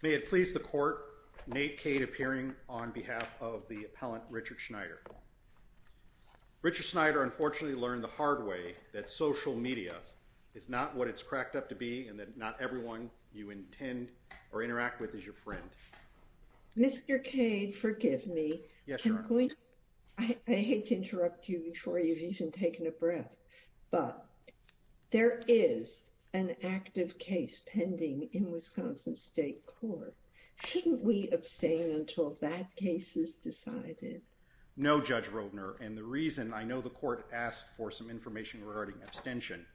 May it please the court, Nate Cade appearing on behalf of the appellant Richard Schneider. Richard Schneider unfortunately learned the hard way that social media is not what it's cracked up to be and that not everyone you intend or interact with is your friend. Mr. Cade forgive me, I hate to interrupt you before you've even taken a breath, but there is an active case pending in Wisconsin State Court. Shouldn't we abstain until that case is decided? No Judge Roedner and the reason I know the court asked for some information regarding abstention.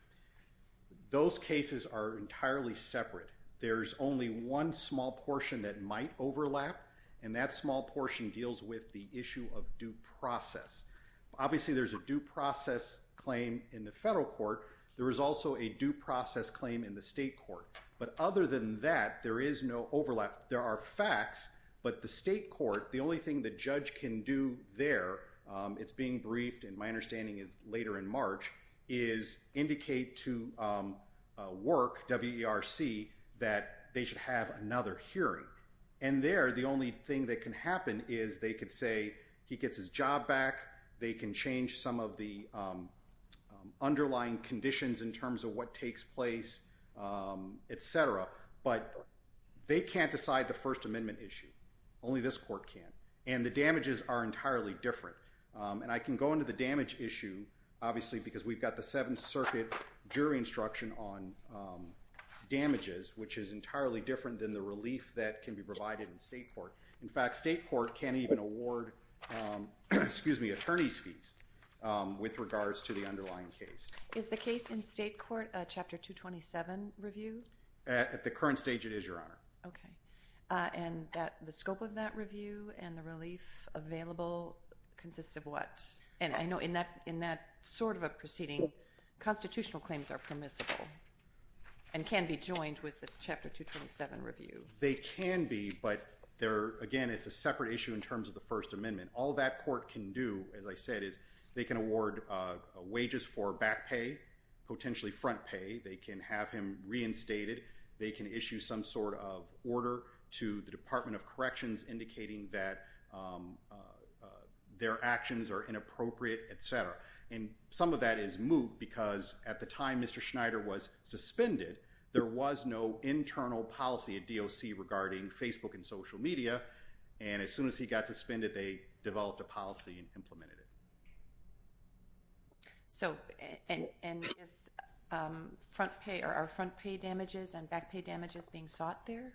Those cases are entirely separate. There's only one small portion that might overlap and that small portion deals with the issue of due process. Obviously there's a due process claim in the federal court. There is also a due process claim in the state court, but other than that there is no overlap. There are facts, but the state court, the only thing the judge can do there, it's being briefed and my understanding is later in March, is indicate to work WERC that they should have another hearing. And there the only thing that can happen is they could say he gets his job back, they can change some of the underlying conditions in terms of what takes place, etc. But they can't decide the First Amendment issue. Only this court can. And the damages are entirely different. And I can go into the damage issue, obviously, because we've got the Seventh Circuit jury instruction on damages, which is entirely different than the relief that can be provided in state court. In fact, state court can't even award attorney's fees with regards to the underlying case. Is the case in state court a Chapter 227 review? At the current stage it is, Your Honor. And the scope of that review and the relief available consists of what? And I know in that sort of a proceeding, constitutional claims are permissible and can be joined with the Chapter 227 review. They can be, but again, it's a separate issue in terms of the First Amendment. And all that court can do, as I said, is they can award wages for back pay, potentially front pay. They can have him reinstated. They can issue some sort of order to the Department of Corrections indicating that their actions are inappropriate, etc. And some of that is moot because at the time Mr. Schneider was suspended, there was no internal policy at DOC regarding Facebook and social media. And as soon as he got suspended, they developed a policy and implemented it. So, and is front pay, or are front pay damages and back pay damages being sought there?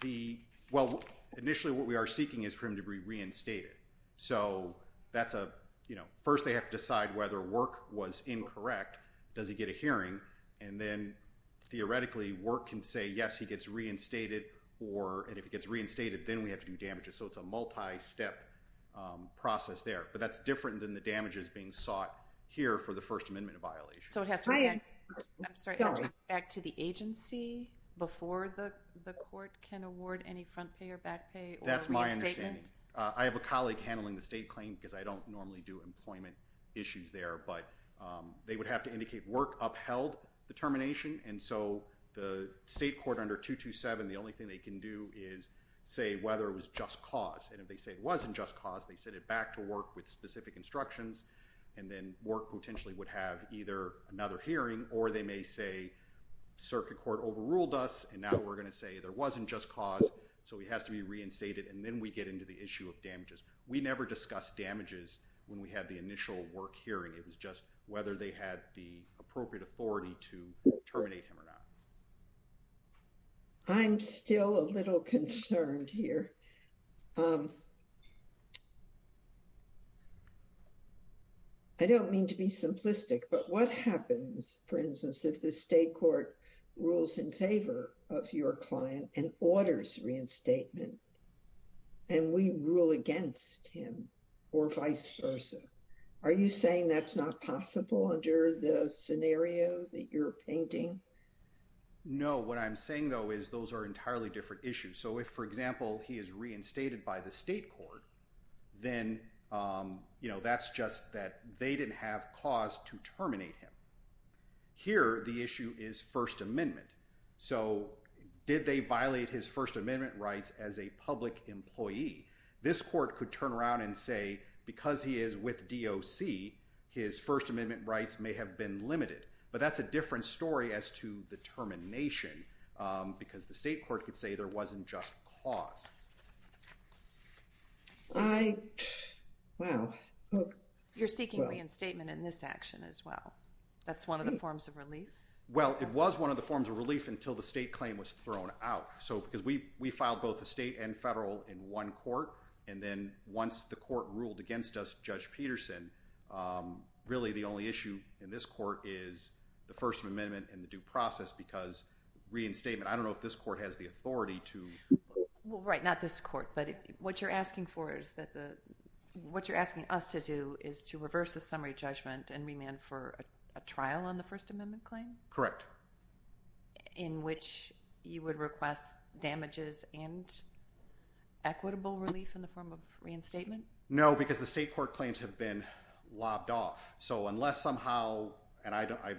The, well, initially what we are seeking is for him to be reinstated. So that's a, you know, first they have to decide whether work was incorrect. Does he get a hearing? And then, theoretically, work can say, yes, he gets reinstated, or, and if he gets reinstated, then we have to do damages. So it's a multi-step process there. But that's different than the damages being sought here for the First Amendment violation. So it has to go back to the agency before the court can award any front pay or back pay? That's my understanding. I have a colleague handling the state claim because I don't normally do employment issues there. But they would have to indicate work upheld the termination. And so the state court under 227, the only thing they can do is say whether it was just cause. And if they say it wasn't just cause, they send it back to work with specific instructions. And then work potentially would have either another hearing, or they may say circuit court overruled us, and now we're going to say there wasn't just cause. So he has to be reinstated, and then we get into the issue of damages. We never discussed damages when we had the initial work hearing. It was just whether they had the appropriate authority to terminate him or not. I'm still a little concerned here. I don't mean to be simplistic, but what happens, for instance, if the state court rules in favor of your client and orders reinstatement? And we rule against him, or vice versa. Are you saying that's not possible under the scenario that you're painting? No, what I'm saying, though, is those are entirely different issues. So if, for example, he is reinstated by the state court, then that's just that they didn't have cause to terminate him. Here, the issue is First Amendment. So did they violate his First Amendment rights as a public employee? This court could turn around and say, because he is with DOC, his First Amendment rights may have been limited. But that's a different story as to the termination, because the state court could say there wasn't just cause. You're seeking reinstatement in this action as well. That's one of the forms of relief? Well, it was one of the forms of relief until the state claim was thrown out. So because we filed both the state and federal in one court, and then once the court ruled against us, Judge Peterson, really the only issue in this court is the First Amendment and the due process, because reinstatement, I don't know if this court has the authority to. Right, not this court. But what you're asking us to do is to reverse the summary judgment and remand for a trial on the First Amendment claim? Correct. In which you would request damages and equitable relief in the form of reinstatement? No, because the state court claims have been lobbed off. So unless somehow, and I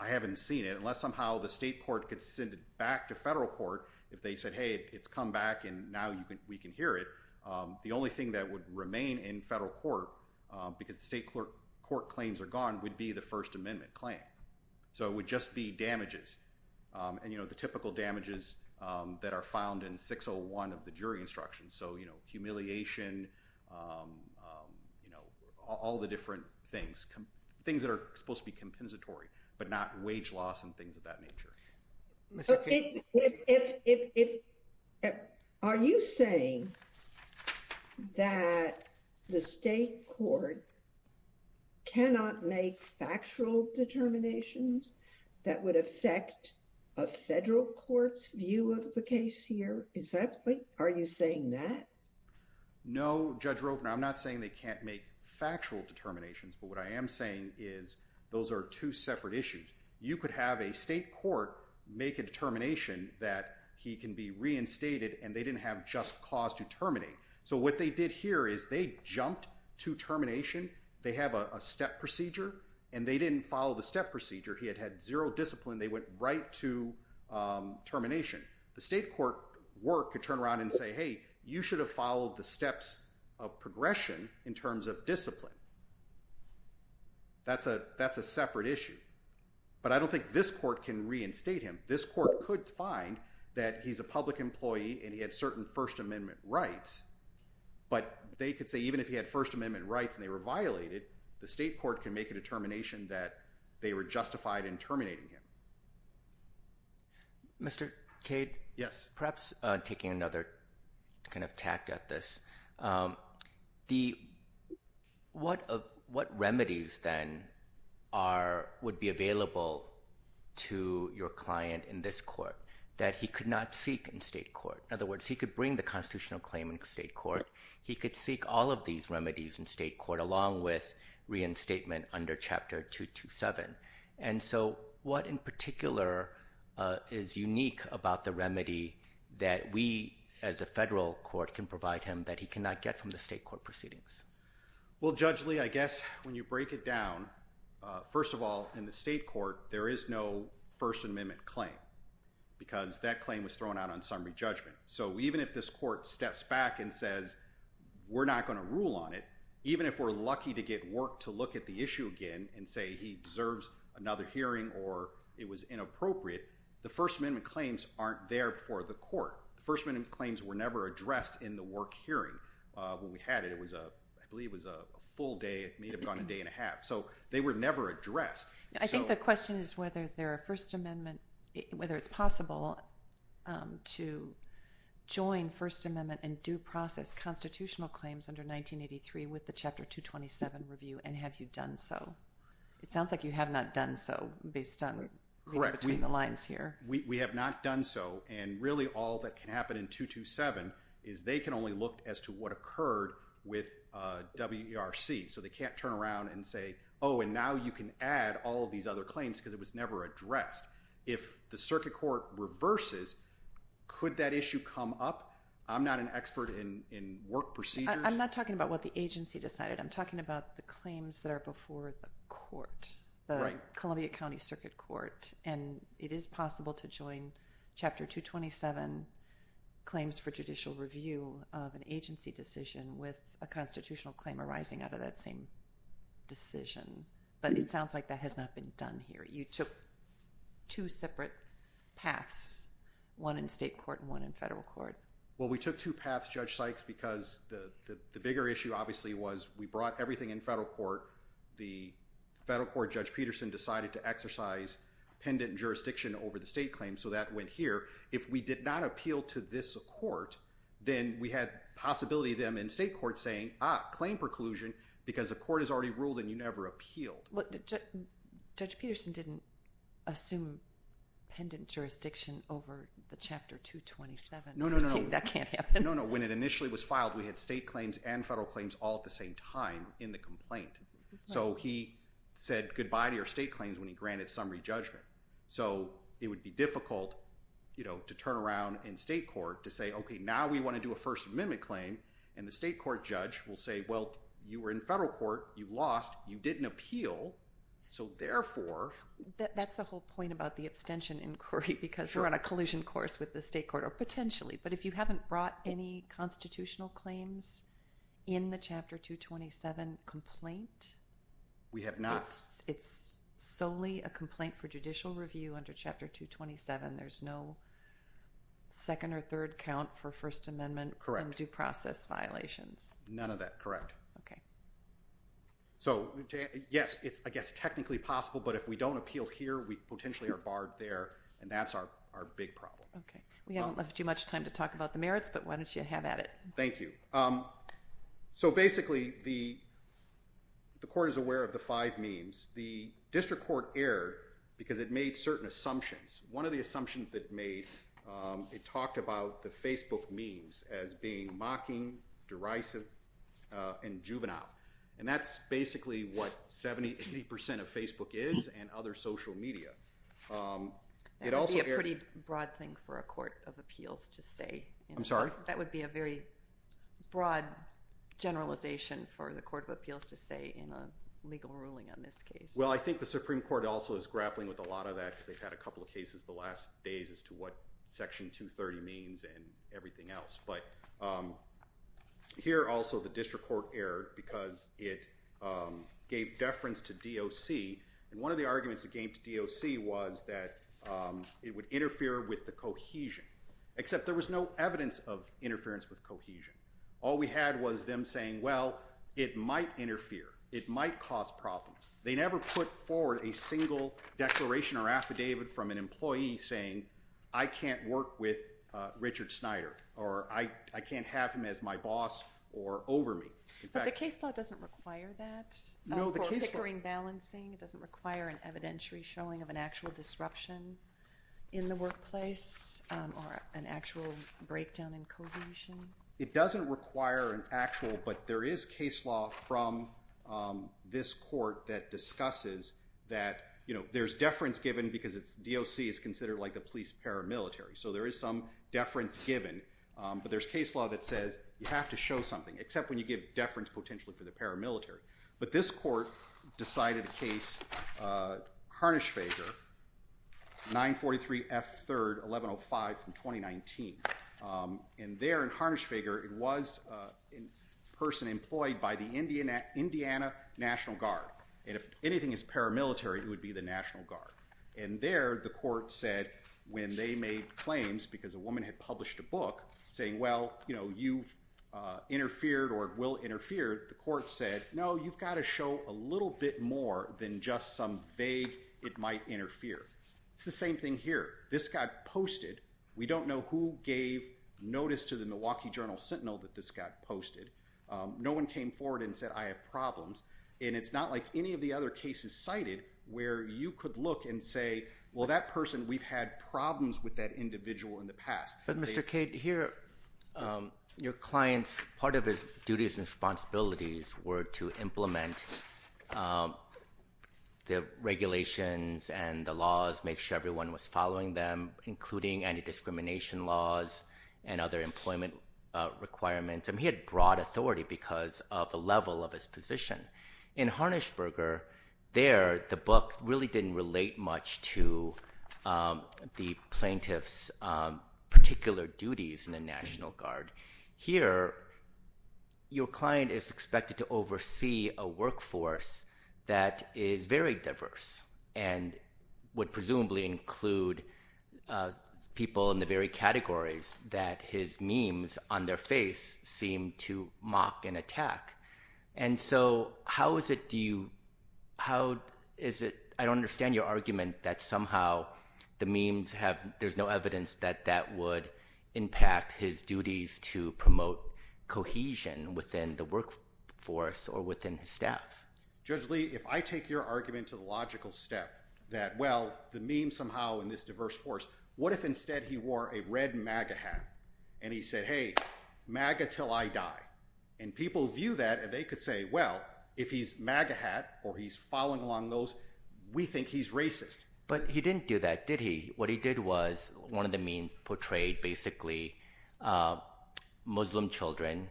haven't seen it, unless somehow the state court could send it back to federal court, if they said, hey, it's come back and now we can hear it, the only thing that would remain in federal court, because the state court claims are gone, would be the First Amendment claim. So it would just be damages, and the typical damages that are found in 601 of the jury instructions. So humiliation, all the different things, things that are supposed to be compensatory, but not wage loss and things of that nature. Are you saying that the state court cannot make factual determinations that would affect a federal court's view of the case here? Are you saying that? No, Judge Roper, I'm not saying they can't make factual determinations. But what I am saying is those are two separate issues. You could have a state court make a determination that he can be reinstated and they didn't have just cause to terminate. So what they did here is they jumped to termination. They have a step procedure and they didn't follow the step procedure. He had had zero discipline. They went right to termination. The state court work could turn around and say, hey, you should have followed the steps of progression in terms of discipline. That's a separate issue. But I don't think this court can reinstate him. This court could find that he's a public employee and he had certain First Amendment rights. But they could say even if he had First Amendment rights and they were violated, the state court can make a determination that they were justified in terminating him. Mr. Cade? Yes. Perhaps taking another kind of tack at this, what remedies then would be available to your client in this court that he could not seek in state court? In other words, he could bring the constitutional claim in state court. He could seek all of these remedies in state court along with reinstatement under Chapter 227. And so what in particular is unique about the remedy that we as a federal court can provide him that he cannot get from the state court proceedings? Well, Judge Lee, I guess when you break it down, first of all, in the state court there is no First Amendment claim because that claim was thrown out on summary judgment. So even if this court steps back and says we're not going to rule on it, even if we're lucky to get work to look at the issue again and say he deserves another hearing or it was inappropriate, the First Amendment claims aren't there for the court. The First Amendment claims were never addressed in the work hearing. When we had it, I believe it was a full day. It may have gone a day and a half. So they were never addressed. I think the question is whether it's possible to join First Amendment and due process constitutional claims under 1983 with the Chapter 227 review and have you done so. It sounds like you have not done so based on the lines here. We have not done so. And really all that can happen in 227 is they can only look as to what occurred with WERC. So they can't turn around and say, oh, and now you can add all of these other claims because it was never addressed. If the circuit court reverses, could that issue come up? I'm not an expert in work procedures. I'm not talking about what the agency decided. I'm talking about the claims that are before the court, the Columbia County Circuit Court. And it is possible to join Chapter 227 claims for judicial review of an agency decision with a constitutional claim arising out of that same decision. But it sounds like that has not been done here. You took two separate paths, one in state court and one in federal court. Well, we took two paths, Judge Sykes, because the bigger issue obviously was we brought everything in federal court. The federal court, Judge Peterson, decided to exercise pendent jurisdiction over the state claim. So that went here. If we did not appeal to this court, then we had possibility of them in state court saying, ah, claim preclusion because the court has already ruled and you never appealed. Judge Peterson didn't assume pendent jurisdiction over the Chapter 227. No, no, no. That can't happen. No, no. When it initially was filed, we had state claims and federal claims all at the same time in the complaint. So he said goodbye to your state claims when he granted summary judgment. So it would be difficult, you know, to turn around in state court to say, okay, now we want to do a First Amendment claim. And the state court judge will say, well, you were in federal court. You lost. You didn't appeal. So therefore. That's the whole point about the abstention inquiry because you're on a collision course with the state court or potentially. But if you haven't brought any constitutional claims in the Chapter 227 complaint. We have not. It's solely a complaint for judicial review under Chapter 227. There's no second or third count for First Amendment due process violations. None of that. Correct. Okay. So, yes, it's, I guess, technically possible. But if we don't appeal here, we potentially are barred there. And that's our big problem. Okay. We haven't left you much time to talk about the merits, but why don't you have at it? Thank you. So basically, the court is aware of the five memes. The district court erred because it made certain assumptions. One of the assumptions it made, it talked about the Facebook memes as being mocking, derisive, and juvenile. And that's basically what 70, 80% of Facebook is and other social media. It also erred. That would be a pretty broad thing for a court of appeals to say. I'm sorry? That would be a very broad generalization for the court of appeals to say in a legal ruling on this case. Well, I think the Supreme Court also is grappling with a lot of that because they've had a couple of cases the last days as to what Section 230 means and everything else. But here also the district court erred because it gave deference to DOC. And one of the arguments it gave to DOC was that it would interfere with the cohesion. Except there was no evidence of interference with cohesion. All we had was them saying, well, it might interfere. It might cause problems. They never put forward a single declaration or affidavit from an employee saying, I can't work with Richard Snyder or I can't have him as my boss or over me. But the case law doesn't require that for a pickering balancing. It doesn't require an evidentiary showing of an actual disruption in the workplace or an actual breakdown in cohesion. It doesn't require an actual, but there is case law from this court that discusses that there's deference given because DOC is considered like a police paramilitary. So there is some deference given. But there's case law that says you have to show something, except when you give deference potentially to the paramilitary. But this court decided a case, Harnisch-Fager, 943 F. 3rd, 1105 from 2019. And there in Harnisch-Fager, it was a person employed by the Indiana National Guard. And if anything is paramilitary, it would be the National Guard. And there, the court said, when they made claims because a woman had published a book saying, well, you've interfered or will interfere, the court said, no, you've got to show a little bit more than just some vague it might interfere. It's the same thing here. This got posted. We don't know who gave notice to the Milwaukee Journal Sentinel that this got posted. No one came forward and said, I have problems. And it's not like any of the other cases cited where you could look and say, well, that person, we've had problems with that individual in the past. But Mr. Cade, here, your client's part of his duties and responsibilities were to implement the regulations and the laws, make sure everyone was following them, including anti-discrimination laws and other employment requirements. And he had broad authority because of the level of his position. In Harnischberger, there, the book really didn't relate much to the plaintiff's particular duties in the National Guard. Here, your client is expected to oversee a workforce that is very diverse and would presumably include people in the very categories that his memes on their face seem to mock and attack. And so how is it, do you, how is it, I don't understand your argument that somehow the memes have, there's no evidence that that would impact his duties to promote cohesion within the workforce or within his staff. Judge Lee, if I take your argument to the logical step that, well, the meme somehow in this diverse force, what if instead he wore a red MAGA hat and he said, hey, MAGA till I die. And people view that and they could say, well, if he's MAGA hat or he's following along those, we think he's racist. But he didn't do that, did he? What he did was one of the memes portrayed basically Muslim children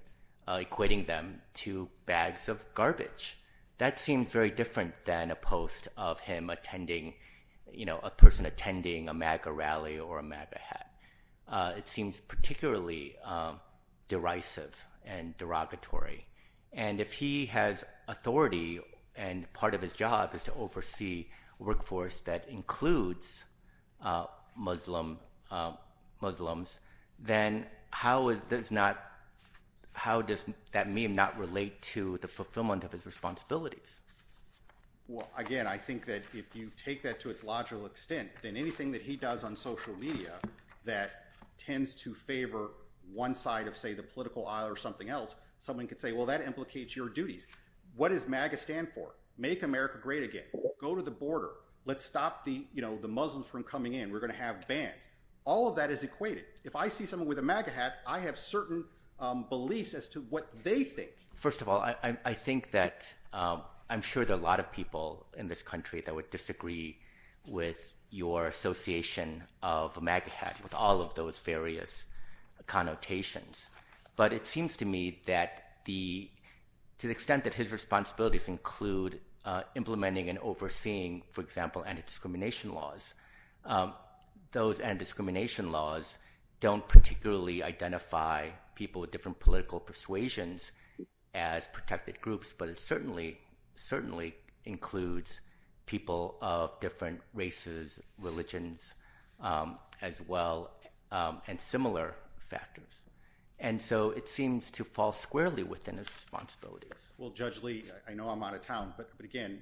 equating them to bags of garbage. That seems very different than a post of him attending, you know, a person attending a MAGA rally or a MAGA hat. It seems particularly derisive and derogatory. And if he has authority and part of his job is to oversee workforce that includes Muslim, Muslims, then how is, does not, how does that meme not relate to the fulfillment of his responsibilities? Well, again, I think that if you take that to its logical extent, then anything that he does on social media that tends to favor one side of, say, the political aisle or something else, someone could say, well, that implicates your duties. What does MAGA stand for? Make America great again. Go to the border. Let's stop the Muslims from coming in. We're going to have bans. All of that is equated. If I see someone with a MAGA hat, I have certain beliefs as to what they think. First of all, I think that I'm sure there are a lot of people in this country that would disagree with your association of a MAGA hat with all of those various connotations. But it seems to me that the, to the extent that his responsibilities include implementing and overseeing, for example, anti-discrimination laws, those anti-discrimination laws don't particularly identify people with different political persuasions as protected groups, but it certainly, certainly includes people of different races, religions, as well, and similar factors. And so it seems to fall squarely within his responsibilities. Well, Judge Lee, I know I'm out of town, but again,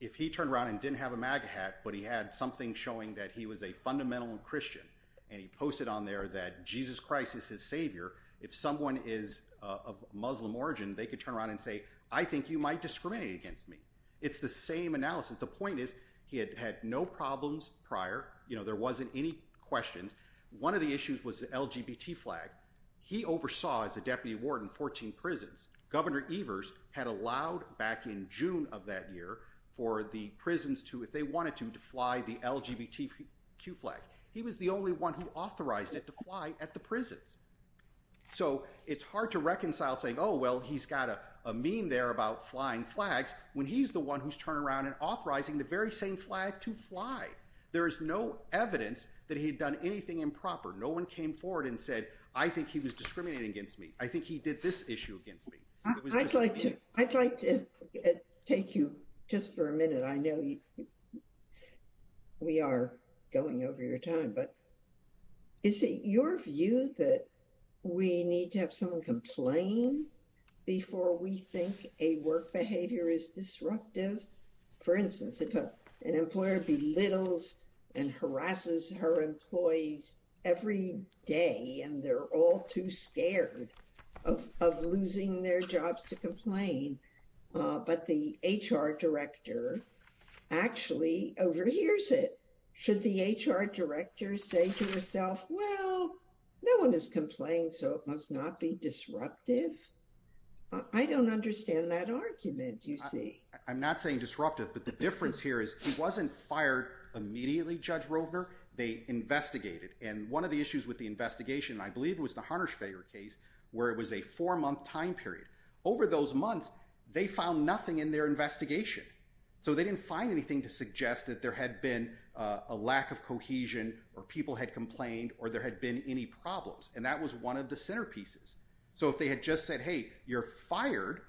if he turned around and didn't have a MAGA hat, but he had something showing that he was a fundamental Christian, and he posted on there that Jesus Christ is his savior, if someone is of Muslim origin, they could turn around and say, I think you might discriminate against me. It's the same analysis. The point is, he had had no problems prior. You know, there wasn't any questions. One of the issues was the LGBT flag. He oversaw, as a deputy warden, 14 prisons. Governor Evers had allowed, back in June of that year, for the prisons to, if they wanted to, to fly the LGBTQ flag. He was the only one who authorized it to fly at the prisons. So it's hard to reconcile saying, oh, well, he's got a meme there about flying flags, when he's the one who's turned around and authorizing the very same flag to fly. There is no evidence that he had done anything improper. No one came forward and said, I think he was discriminating against me. I think he did this issue against me. I'd like to take you just for a minute. I know we are going over your time, but is it your view that we need to have someone complain before we think a work behavior is disruptive? For instance, if an employer belittles and harasses her employees every day, and they're all too scared of losing their jobs to complain, but the HR director actually overhears it, should the HR director say to herself, well, no one has complained, so it must not be disruptive? I don't understand that argument, you see. I'm not saying disruptive, but the difference here is he wasn't fired immediately, Judge Roedner. They investigated. And one of the issues with the investigation, I believe it was the Harnerschwager case, where it was a four-month time period. Over those months, they found nothing in their investigation. So they didn't find anything to suggest that there had been a lack of cohesion or people had complained or there had been any problems. And that was one of the centerpieces. So if they had just said, hey, you're fired,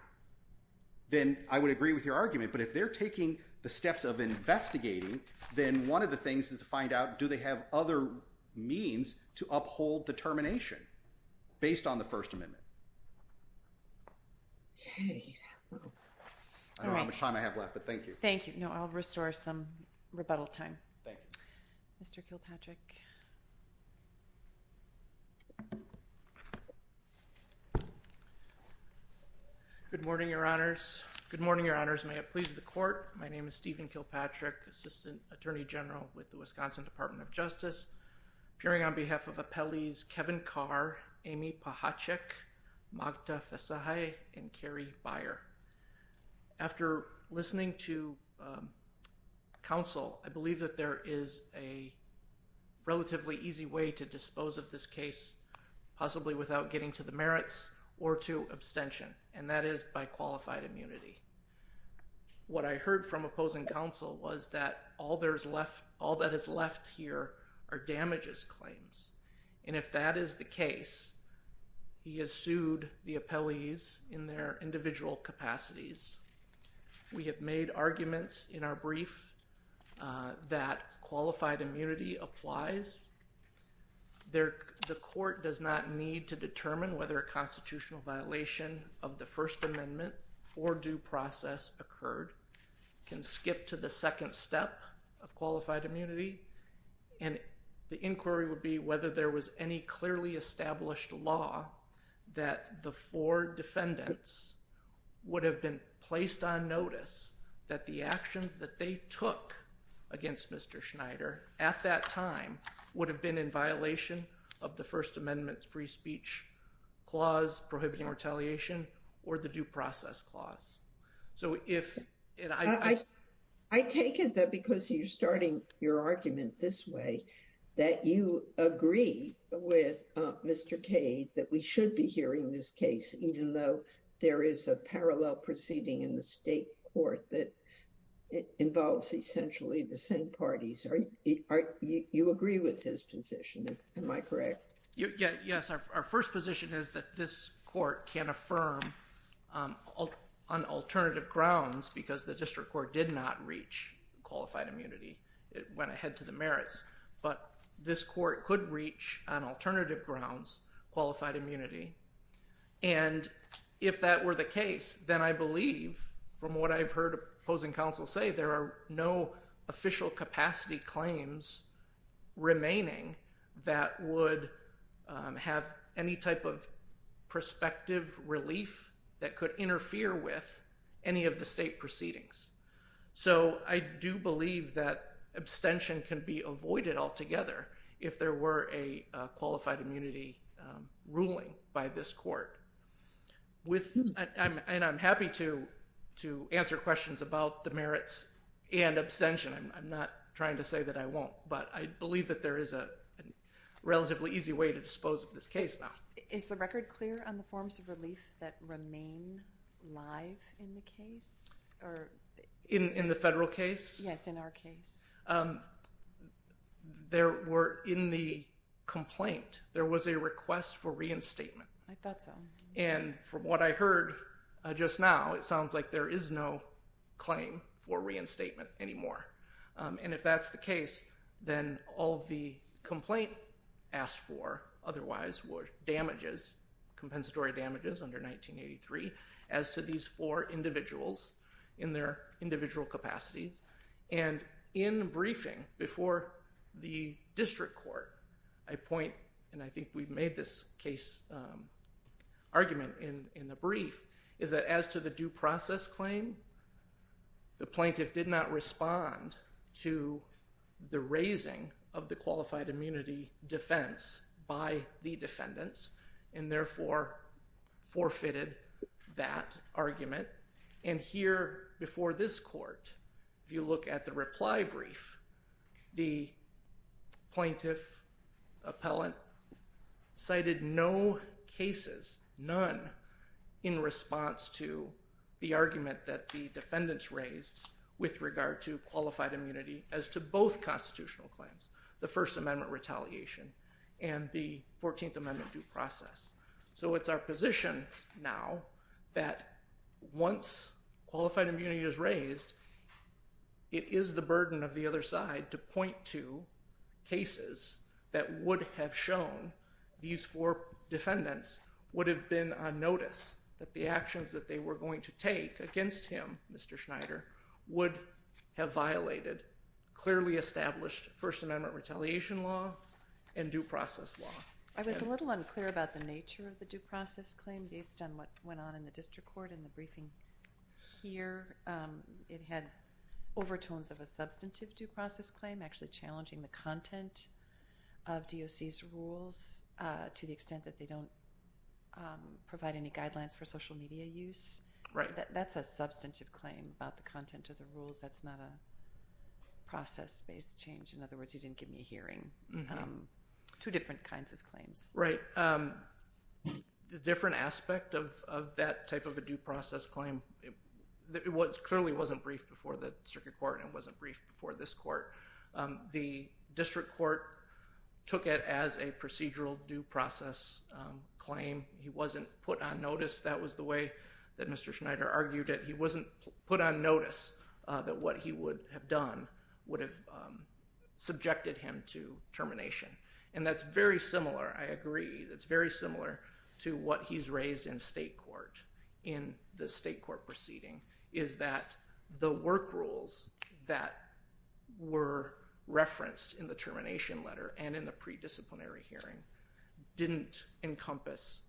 then I would agree with your argument. But if they're taking the steps of investigating, then one of the things is to find out, do they have other means to uphold determination based on the First Amendment? I don't know how much time I have left, but thank you. Thank you. I'll restore some rebuttal time. Mr. Kilpatrick. Good morning, Your Honors. Good morning, Your Honors. May it please the Court. My name is Stephen Kilpatrick, Assistant Attorney General with the Wisconsin Department of Justice. Appearing on behalf of Appellees Kevin Carr, Amy Pachaczek, Magda Fesajai, and Carrie Byer. After listening to counsel, I believe that there is a relatively easy way to dispose of this case, possibly without getting to the merits or to abstention, and that is by qualified immunity. What I heard from opposing counsel was that all that is left here are damages claims. And if that is the case, he has sued the appellees in their individual capacities. We have made arguments in our brief that qualified immunity applies. The court does not need to determine whether a constitutional violation of the First Amendment or due process occurred. It can skip to the second step of qualified immunity. And the inquiry would be whether there was any clearly established law that the four defendants would have been placed on notice that the actions that they took against Mr. Schneider at that time would have been in violation of the First Amendment free speech clause prohibiting retaliation or the due process clause. So if I take it that because you're starting your argument this way, that you agree with Mr. Cade that we should be hearing this case, even though there is a parallel proceeding in the state court that involves essentially the same parties. Are you agree with his position? Am I correct? Yes, our first position is that this court can affirm on alternative grounds because the district court did not reach qualified immunity. It went ahead to the merits, but this court could reach on alternative grounds qualified immunity. And if that were the case, then I believe from what I've heard opposing counsel say there are no official capacity claims remaining that would have any type of perspective relief that could interfere with any of the state proceedings. So I do believe that abstention can be avoided altogether if there were a qualified immunity ruling by this court. And I'm happy to answer questions about the merits and abstention. I'm not trying to say that I won't, but I believe that there is a relatively easy way to dispose of this case now. Is the record clear on the forms of relief that remain live in the case? In the federal case? Yes, in our case. There were in the complaint, there was a request for reinstatement. I thought so. And from what I heard just now, it sounds like there is no claim for reinstatement anymore. And if that's the case, then all the complaint asked for otherwise would damages compensatory damages under 1983 as to these four individuals in their individual capacity. And in briefing before the district court, I point, and I think we've made this case argument in the brief, is that as to the due process claim, the plaintiff did not respond to the raising of the qualified immunity defense by the defendants and therefore forfeited that argument. And here before this court, if you look at the reply brief, the plaintiff appellant cited no cases, none in response to the argument that the defendants raised with regard to qualified immunity as to both constitutional claims, the First Amendment retaliation and the 14th Amendment due process. So it's our position now that once qualified immunity is raised, it is the burden of the other side to point to cases that would have shown these four defendants would have been on notice that the actions that they were going to take against him, Mr. Schneider, would have violated clearly established First Amendment retaliation law and due process law. I was a little unclear about the nature of the due process claim based on what went on in the district court in the briefing here. It had overtones of a substantive due process claim actually challenging the content of DOC's rules to the extent that they don't provide any guidelines for social media use. Right. That's a substantive claim about the content of the rules. That's not a process-based change. In other words, you didn't give me a hearing. Two different kinds of claims. Right. The different aspect of that type of a due process claim, it clearly wasn't briefed before the circuit court and wasn't briefed before this court. The district court took it as a procedural due process claim. He wasn't put on notice. That was the way that Mr. Schneider argued it. He wasn't put on notice that what he would have done would have subjected him to termination. That's very similar. I agree. It's very similar to what he's raised in state court in the state court proceeding is that the work rules that were referenced in the termination letter and in the predisciplinary hearing didn't encompass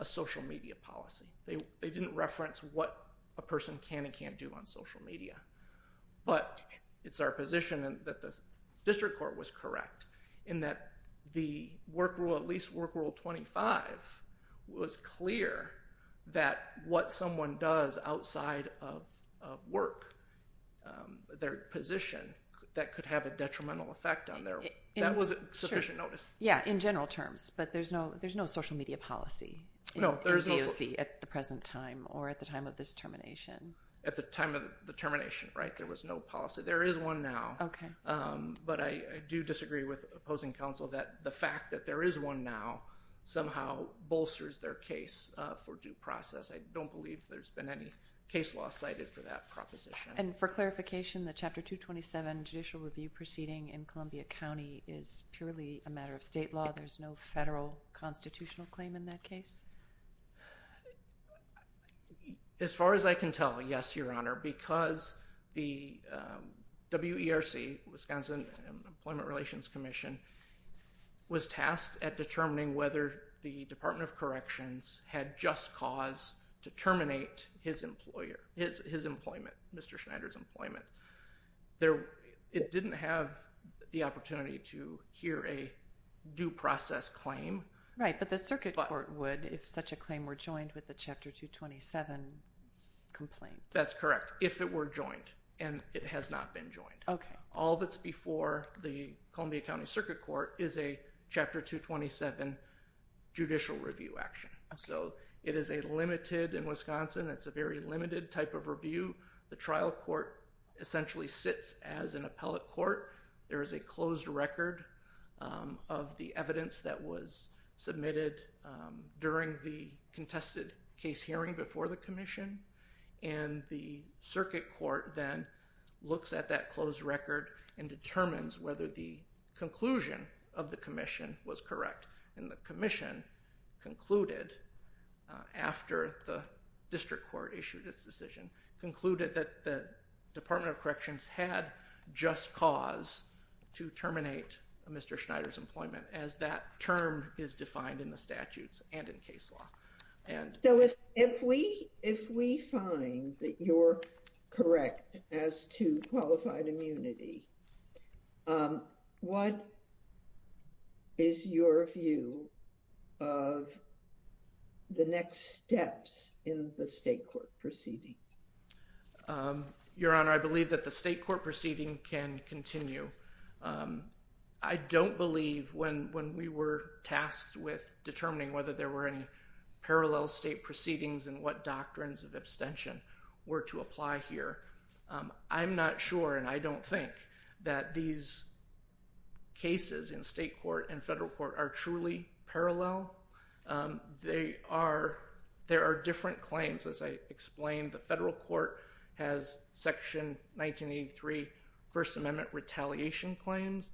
a social media policy. They didn't reference what a person can and can't do on social media. It's our position that the district court was correct in that the work rule, at least work rule 25, was clear that what someone does outside of work, their position, that could have a detrimental effect on their work. That wasn't sufficient notice. Yeah, in general terms. There's no social media policy in DOC at the present time or at the time of this termination. At the time of the termination, right? There was no policy. There is one now. Okay. But I do disagree with opposing counsel that the fact that there is one now somehow bolsters their case for due process. I don't believe there's been any case law cited for that proposition. And for clarification, the Chapter 227 judicial review proceeding in Columbia County is purely a matter of state law. There's no federal constitutional claim in that case. As far as I can tell, yes, Your Honor, because the WERC, Wisconsin Employment Relations Commission, was tasked at determining whether the Department of Corrections had just cause to terminate his employer, his employment, Mr. Schneider's employment. It didn't have the opportunity to hear a due process claim. Right. But the circuit court would, if such a claim were joined with the Chapter 227 complaint. That's correct. If it were joined. And it has not been joined. Okay. All that's before the Columbia County Circuit Court is a Chapter 227 judicial review action. So, it is a limited, in Wisconsin, it's a very limited type of review. The trial court essentially sits as an appellate court. There is a closed record of the evidence that was submitted during the contested case hearing before the commission. And the circuit court then looks at that closed record and determines whether the conclusion of the commission was correct. And the commission concluded, after the district court issued its decision, concluded that the Department of Corrections had just cause to terminate Mr. Schneider's employment, as that term is defined in the statutes and in case law. So, if we find that you're correct as to qualified immunity, what is your view of the next steps in the state court proceeding? Your Honor, I believe that the state court proceeding can continue. I don't believe when we were tasked with determining whether there were any parallel state proceedings and what doctrines of abstention were to apply here. I'm not sure and I don't think that these cases in state court and federal court are truly parallel. There are different claims, as I explained. The federal court has Section 1983 First Amendment retaliation claims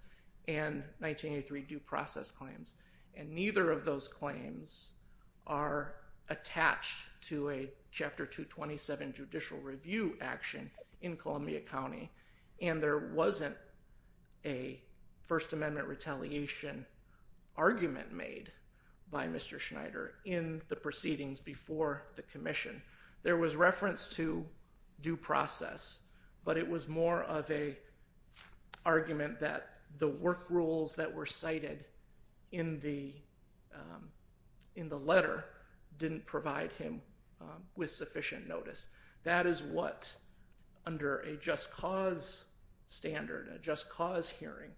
and 1983 due process claims. And neither of those claims are attached to a Chapter 227 judicial review action in Columbia County. And there wasn't a First Amendment retaliation argument made by Mr. Schneider in the proceedings before the commission. There was reference to due process, but it was more of an argument that the work rules that were cited in the letter didn't provide him with sufficient notice. That is what, under a just cause standard, a just cause hearing,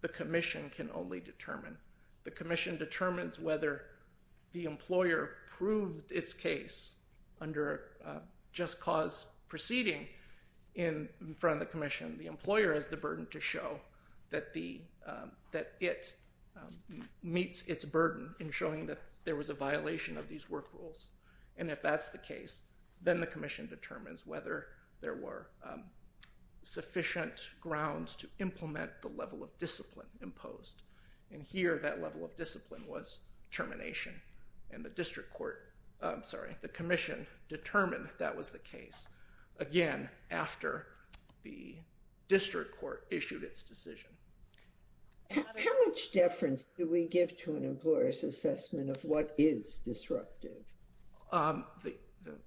the commission can only determine. The commission determines whether the employer proved its case under a just cause proceeding in front of the commission. The employer has the burden to show that it meets its burden in showing that there was a violation of these work rules. And if that's the case, then the commission determines whether there were sufficient grounds to implement the level of discipline imposed. And here, that level of discipline was termination. And the commission determined that was the case, again, after the district court issued its decision. How much deference do we give to an employer's assessment of what is disruptive? The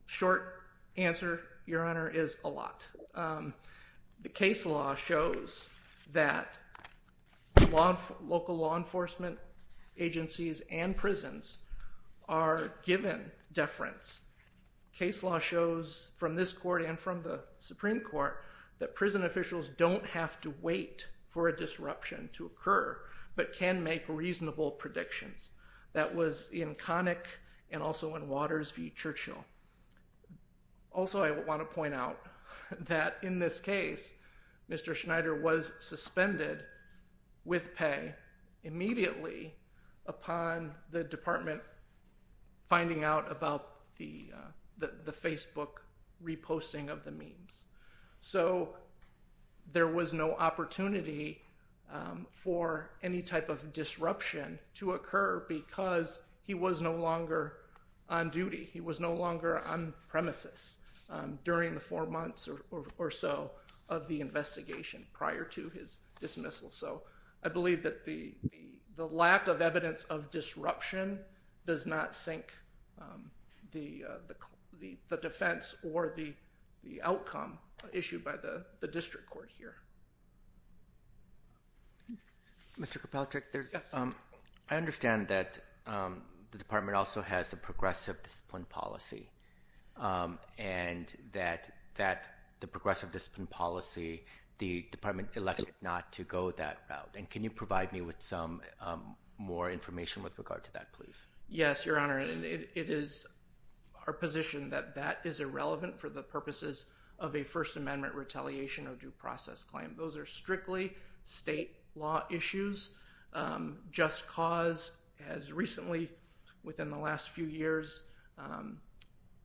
short answer, Your Honor, is a lot. The case law shows that local law enforcement agencies and prisons are given deference. Case law shows from this court and from the Supreme Court that prison officials don't have to wait for a disruption to occur, but can make reasonable predictions. That was in Connick and also in Waters v. Churchill. Also, I want to point out that in this case, Mr. Schneider was suspended with pay immediately upon the department finding out about the Facebook reposting of the memes. So there was no opportunity for any type of disruption to occur because he was no longer on duty. He was no longer on premises during the four months or so of the investigation prior to his dismissal. So I believe that the lack of evidence of disruption does not sink the defense or the outcome issued by the district court here. Mr. Kopelchick, I understand that the department also has a progressive discipline policy. And that the progressive discipline policy, the department elected not to go that route. And can you provide me with some more information with regard to that, please? Yes, Your Honor. It is our position that that is irrelevant for the purposes of a First Amendment retaliation or due process claim. Those are strictly state law issues. Just Cause has recently, within the last few years,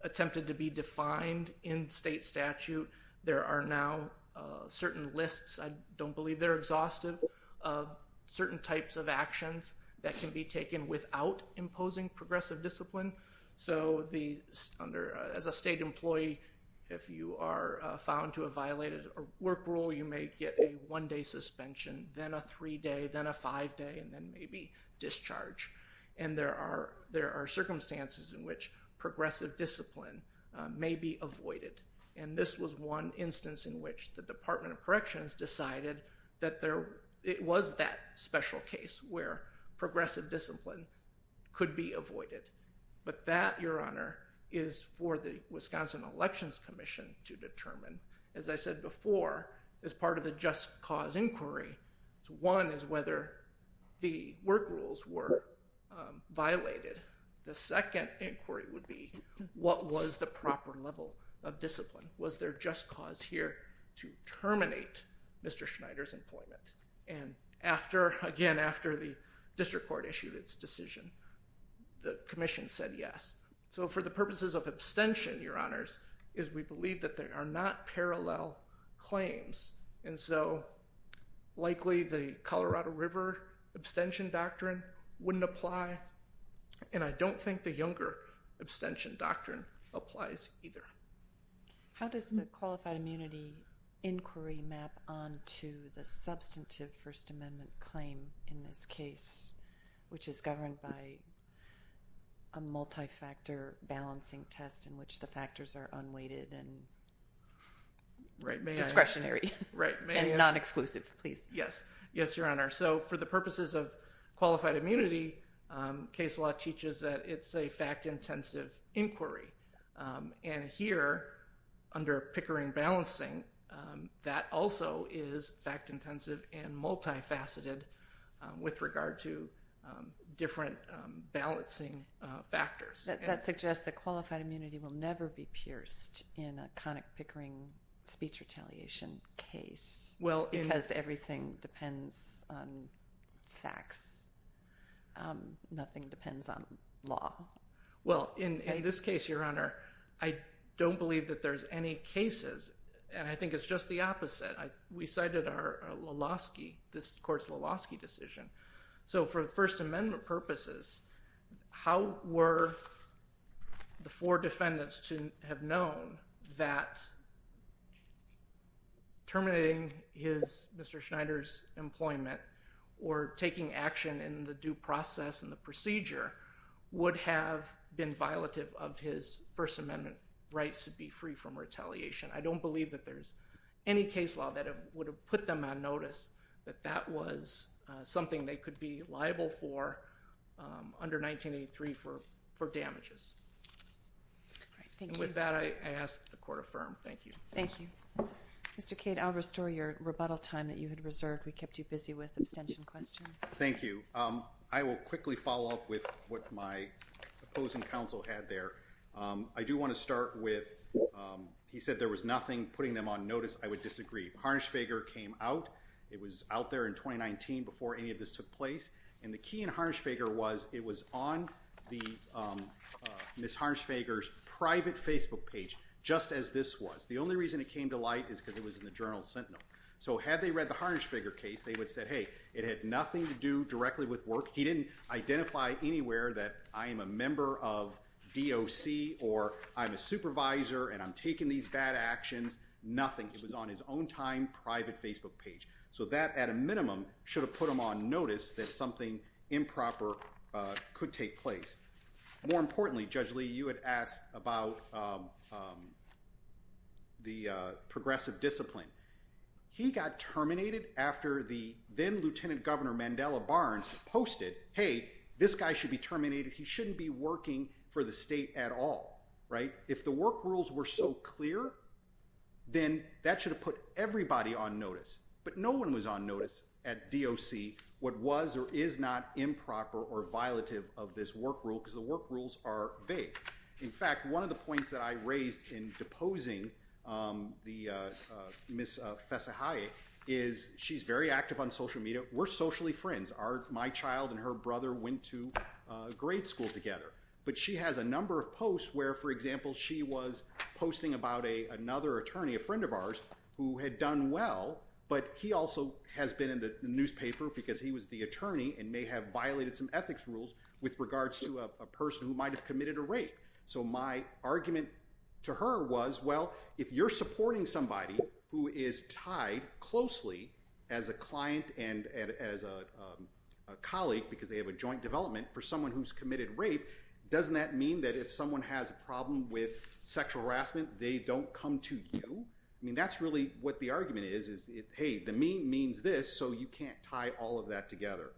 attempted to be defined in state statute. There are now certain lists, I don't believe they're exhaustive, of certain types of actions that can be taken without imposing progressive discipline. So as a state employee, if you are found to have violated a work rule, you may get a one-day suspension, then a three-day, then a five-day, and then maybe discharge. And there are circumstances in which progressive discipline may be avoided. And this was one instance in which the Department of Corrections decided that it was that special case where progressive discipline could be avoided. But that, Your Honor, is for the Wisconsin Elections Commission to determine. As I said before, as part of the Just Cause inquiry, one is whether the work rules were violated. The second inquiry would be, what was the proper level of discipline? Was there Just Cause here to terminate Mr. Schneider's employment? And again, after the district court issued its decision, the commission said yes. So for the purposes of abstention, Your Honors, is we believe that there are not parallel claims. And so likely the Colorado River abstention doctrine wouldn't apply. And I don't think the Younger abstention doctrine applies either. How does the qualified immunity inquiry map onto the substantive First Amendment claim in this case, which is governed by a multi-factor balancing test in which the factors are unweighted and discretionary and non-exclusive? Yes, Your Honor. So for the purposes of qualified immunity, case law teaches that it's a fact-intensive inquiry. And here, under Pickering balancing, that also is fact-intensive and multi-faceted with regard to different balancing factors. That suggests that qualified immunity will never be pierced in a conic Pickering speech retaliation case. Because everything depends on facts. Nothing depends on law. Well, in this case, Your Honor, I don't believe that there's any cases. And I think it's just the opposite. We cited our Lulovsky, this court's Lulovsky decision. So for First Amendment purposes, how were the four defendants to have known that terminating Mr. Schneider's employment or taking action in the due process and the procedure would have been violative of his First Amendment rights to be free from retaliation? I don't believe that there's any case law that would have put them on notice that that was something they could be liable for under 1983 for damages. And with that, I ask that the court affirm. Thank you. Thank you. Mr. Cade, I'll restore your rebuttal time that you had reserved. We kept you busy with abstention questions. Thank you. I will quickly follow up with what my opposing counsel had there. I do want to start with he said there was nothing putting them on notice. I would disagree. Harnisch-Fager came out. It was out there in 2019 before any of this took place. And the key in Harnisch-Fager was it was on the Ms. Harnisch-Fager's private Facebook page just as this was. The only reason it came to light is because it was in the Journal Sentinel. So had they read the Harnisch-Fager case, they would have said, hey, it had nothing to do directly with work. He didn't identify anywhere that I am a member of DOC or I'm a supervisor and I'm taking these bad actions. Nothing. It was on his own time private Facebook page. So that, at a minimum, should have put them on notice that something improper could take place. More importantly, Judge Lee, you had asked about the progressive discipline. He got terminated after the then-Lieutenant Governor Mandela Barnes posted, hey, this guy should be terminated. He shouldn't be working for the state at all. Right? If the work rules were so clear, then that should have put everybody on notice. But no one was on notice at DOC what was or is not improper or violative of this work rule because the work rules are vague. In fact, one of the points that I raised in deposing Ms. Fessahaye is she's very active on social media. We're socially friends. My child and her brother went to grade school together. But she has a number of posts where, for example, she was posting about another attorney, a friend of ours, who had done well. But he also has been in the newspaper because he was the attorney and may have violated some ethics rules with regards to a person who might have committed a rape. So my argument to her was, well, if you're supporting somebody who is tied closely as a client and as a colleague because they have a joint development for someone who's committed rape, doesn't that mean that if someone has a problem with sexual harassment, they don't come to you? I mean, that's really what the argument is, is, hey, the mean means this, so you can't tie all of that together.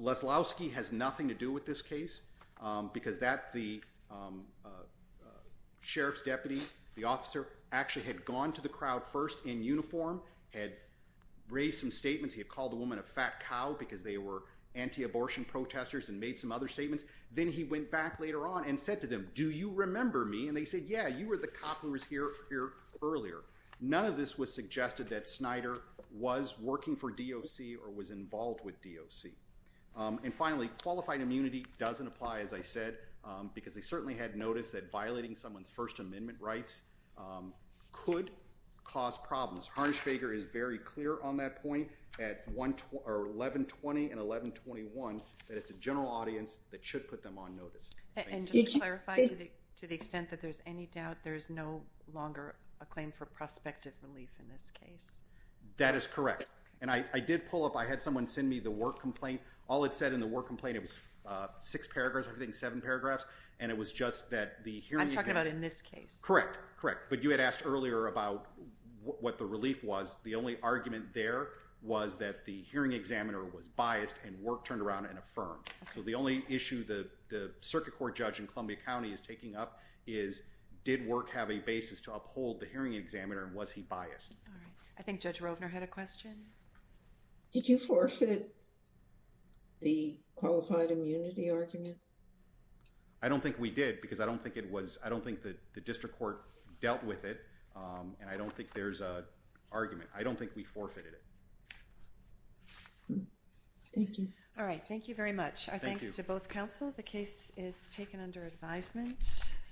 Leslowski has nothing to do with this case because the sheriff's deputy, the officer, actually had gone to the crowd first in uniform, had raised some statements. He had called the woman a fat cow because they were anti-abortion protesters and made some other statements. Then he went back later on and said to them, do you remember me? And they said, yeah, you were the cop who was here earlier. None of this was suggested that Snyder was working for DOC or was involved with DOC. And finally, qualified immunity doesn't apply, as I said, because they certainly had noticed that violating someone's First Amendment rights could cause problems. Harnisch-Baker is very clear on that point at 1120 and 1121 that it's a general audience that should put them on notice. And just to clarify, to the extent that there's any doubt, there's no longer a claim for prospective relief in this case? That is correct. And I did pull up, I had someone send me the work complaint. All it said in the work complaint, it was six paragraphs, I think, seven paragraphs. And it was just that the hearing— I'm talking about in this case. Correct, correct. But you had asked earlier about what the relief was. The only argument there was that the hearing examiner was biased and work turned around and affirmed. So the only issue the circuit court judge in Columbia County is taking up is, did work have a basis to uphold the hearing examiner and was he biased? I think Judge Rovner had a question. Did you forfeit the qualified immunity argument? I don't think we did because I don't think it was—I don't think the district court dealt with it. And I don't think there's an argument. I don't think we forfeited it. Thank you. All right. Thank you very much. Thank you. Our thanks to both counsel. The case is taken under advisement.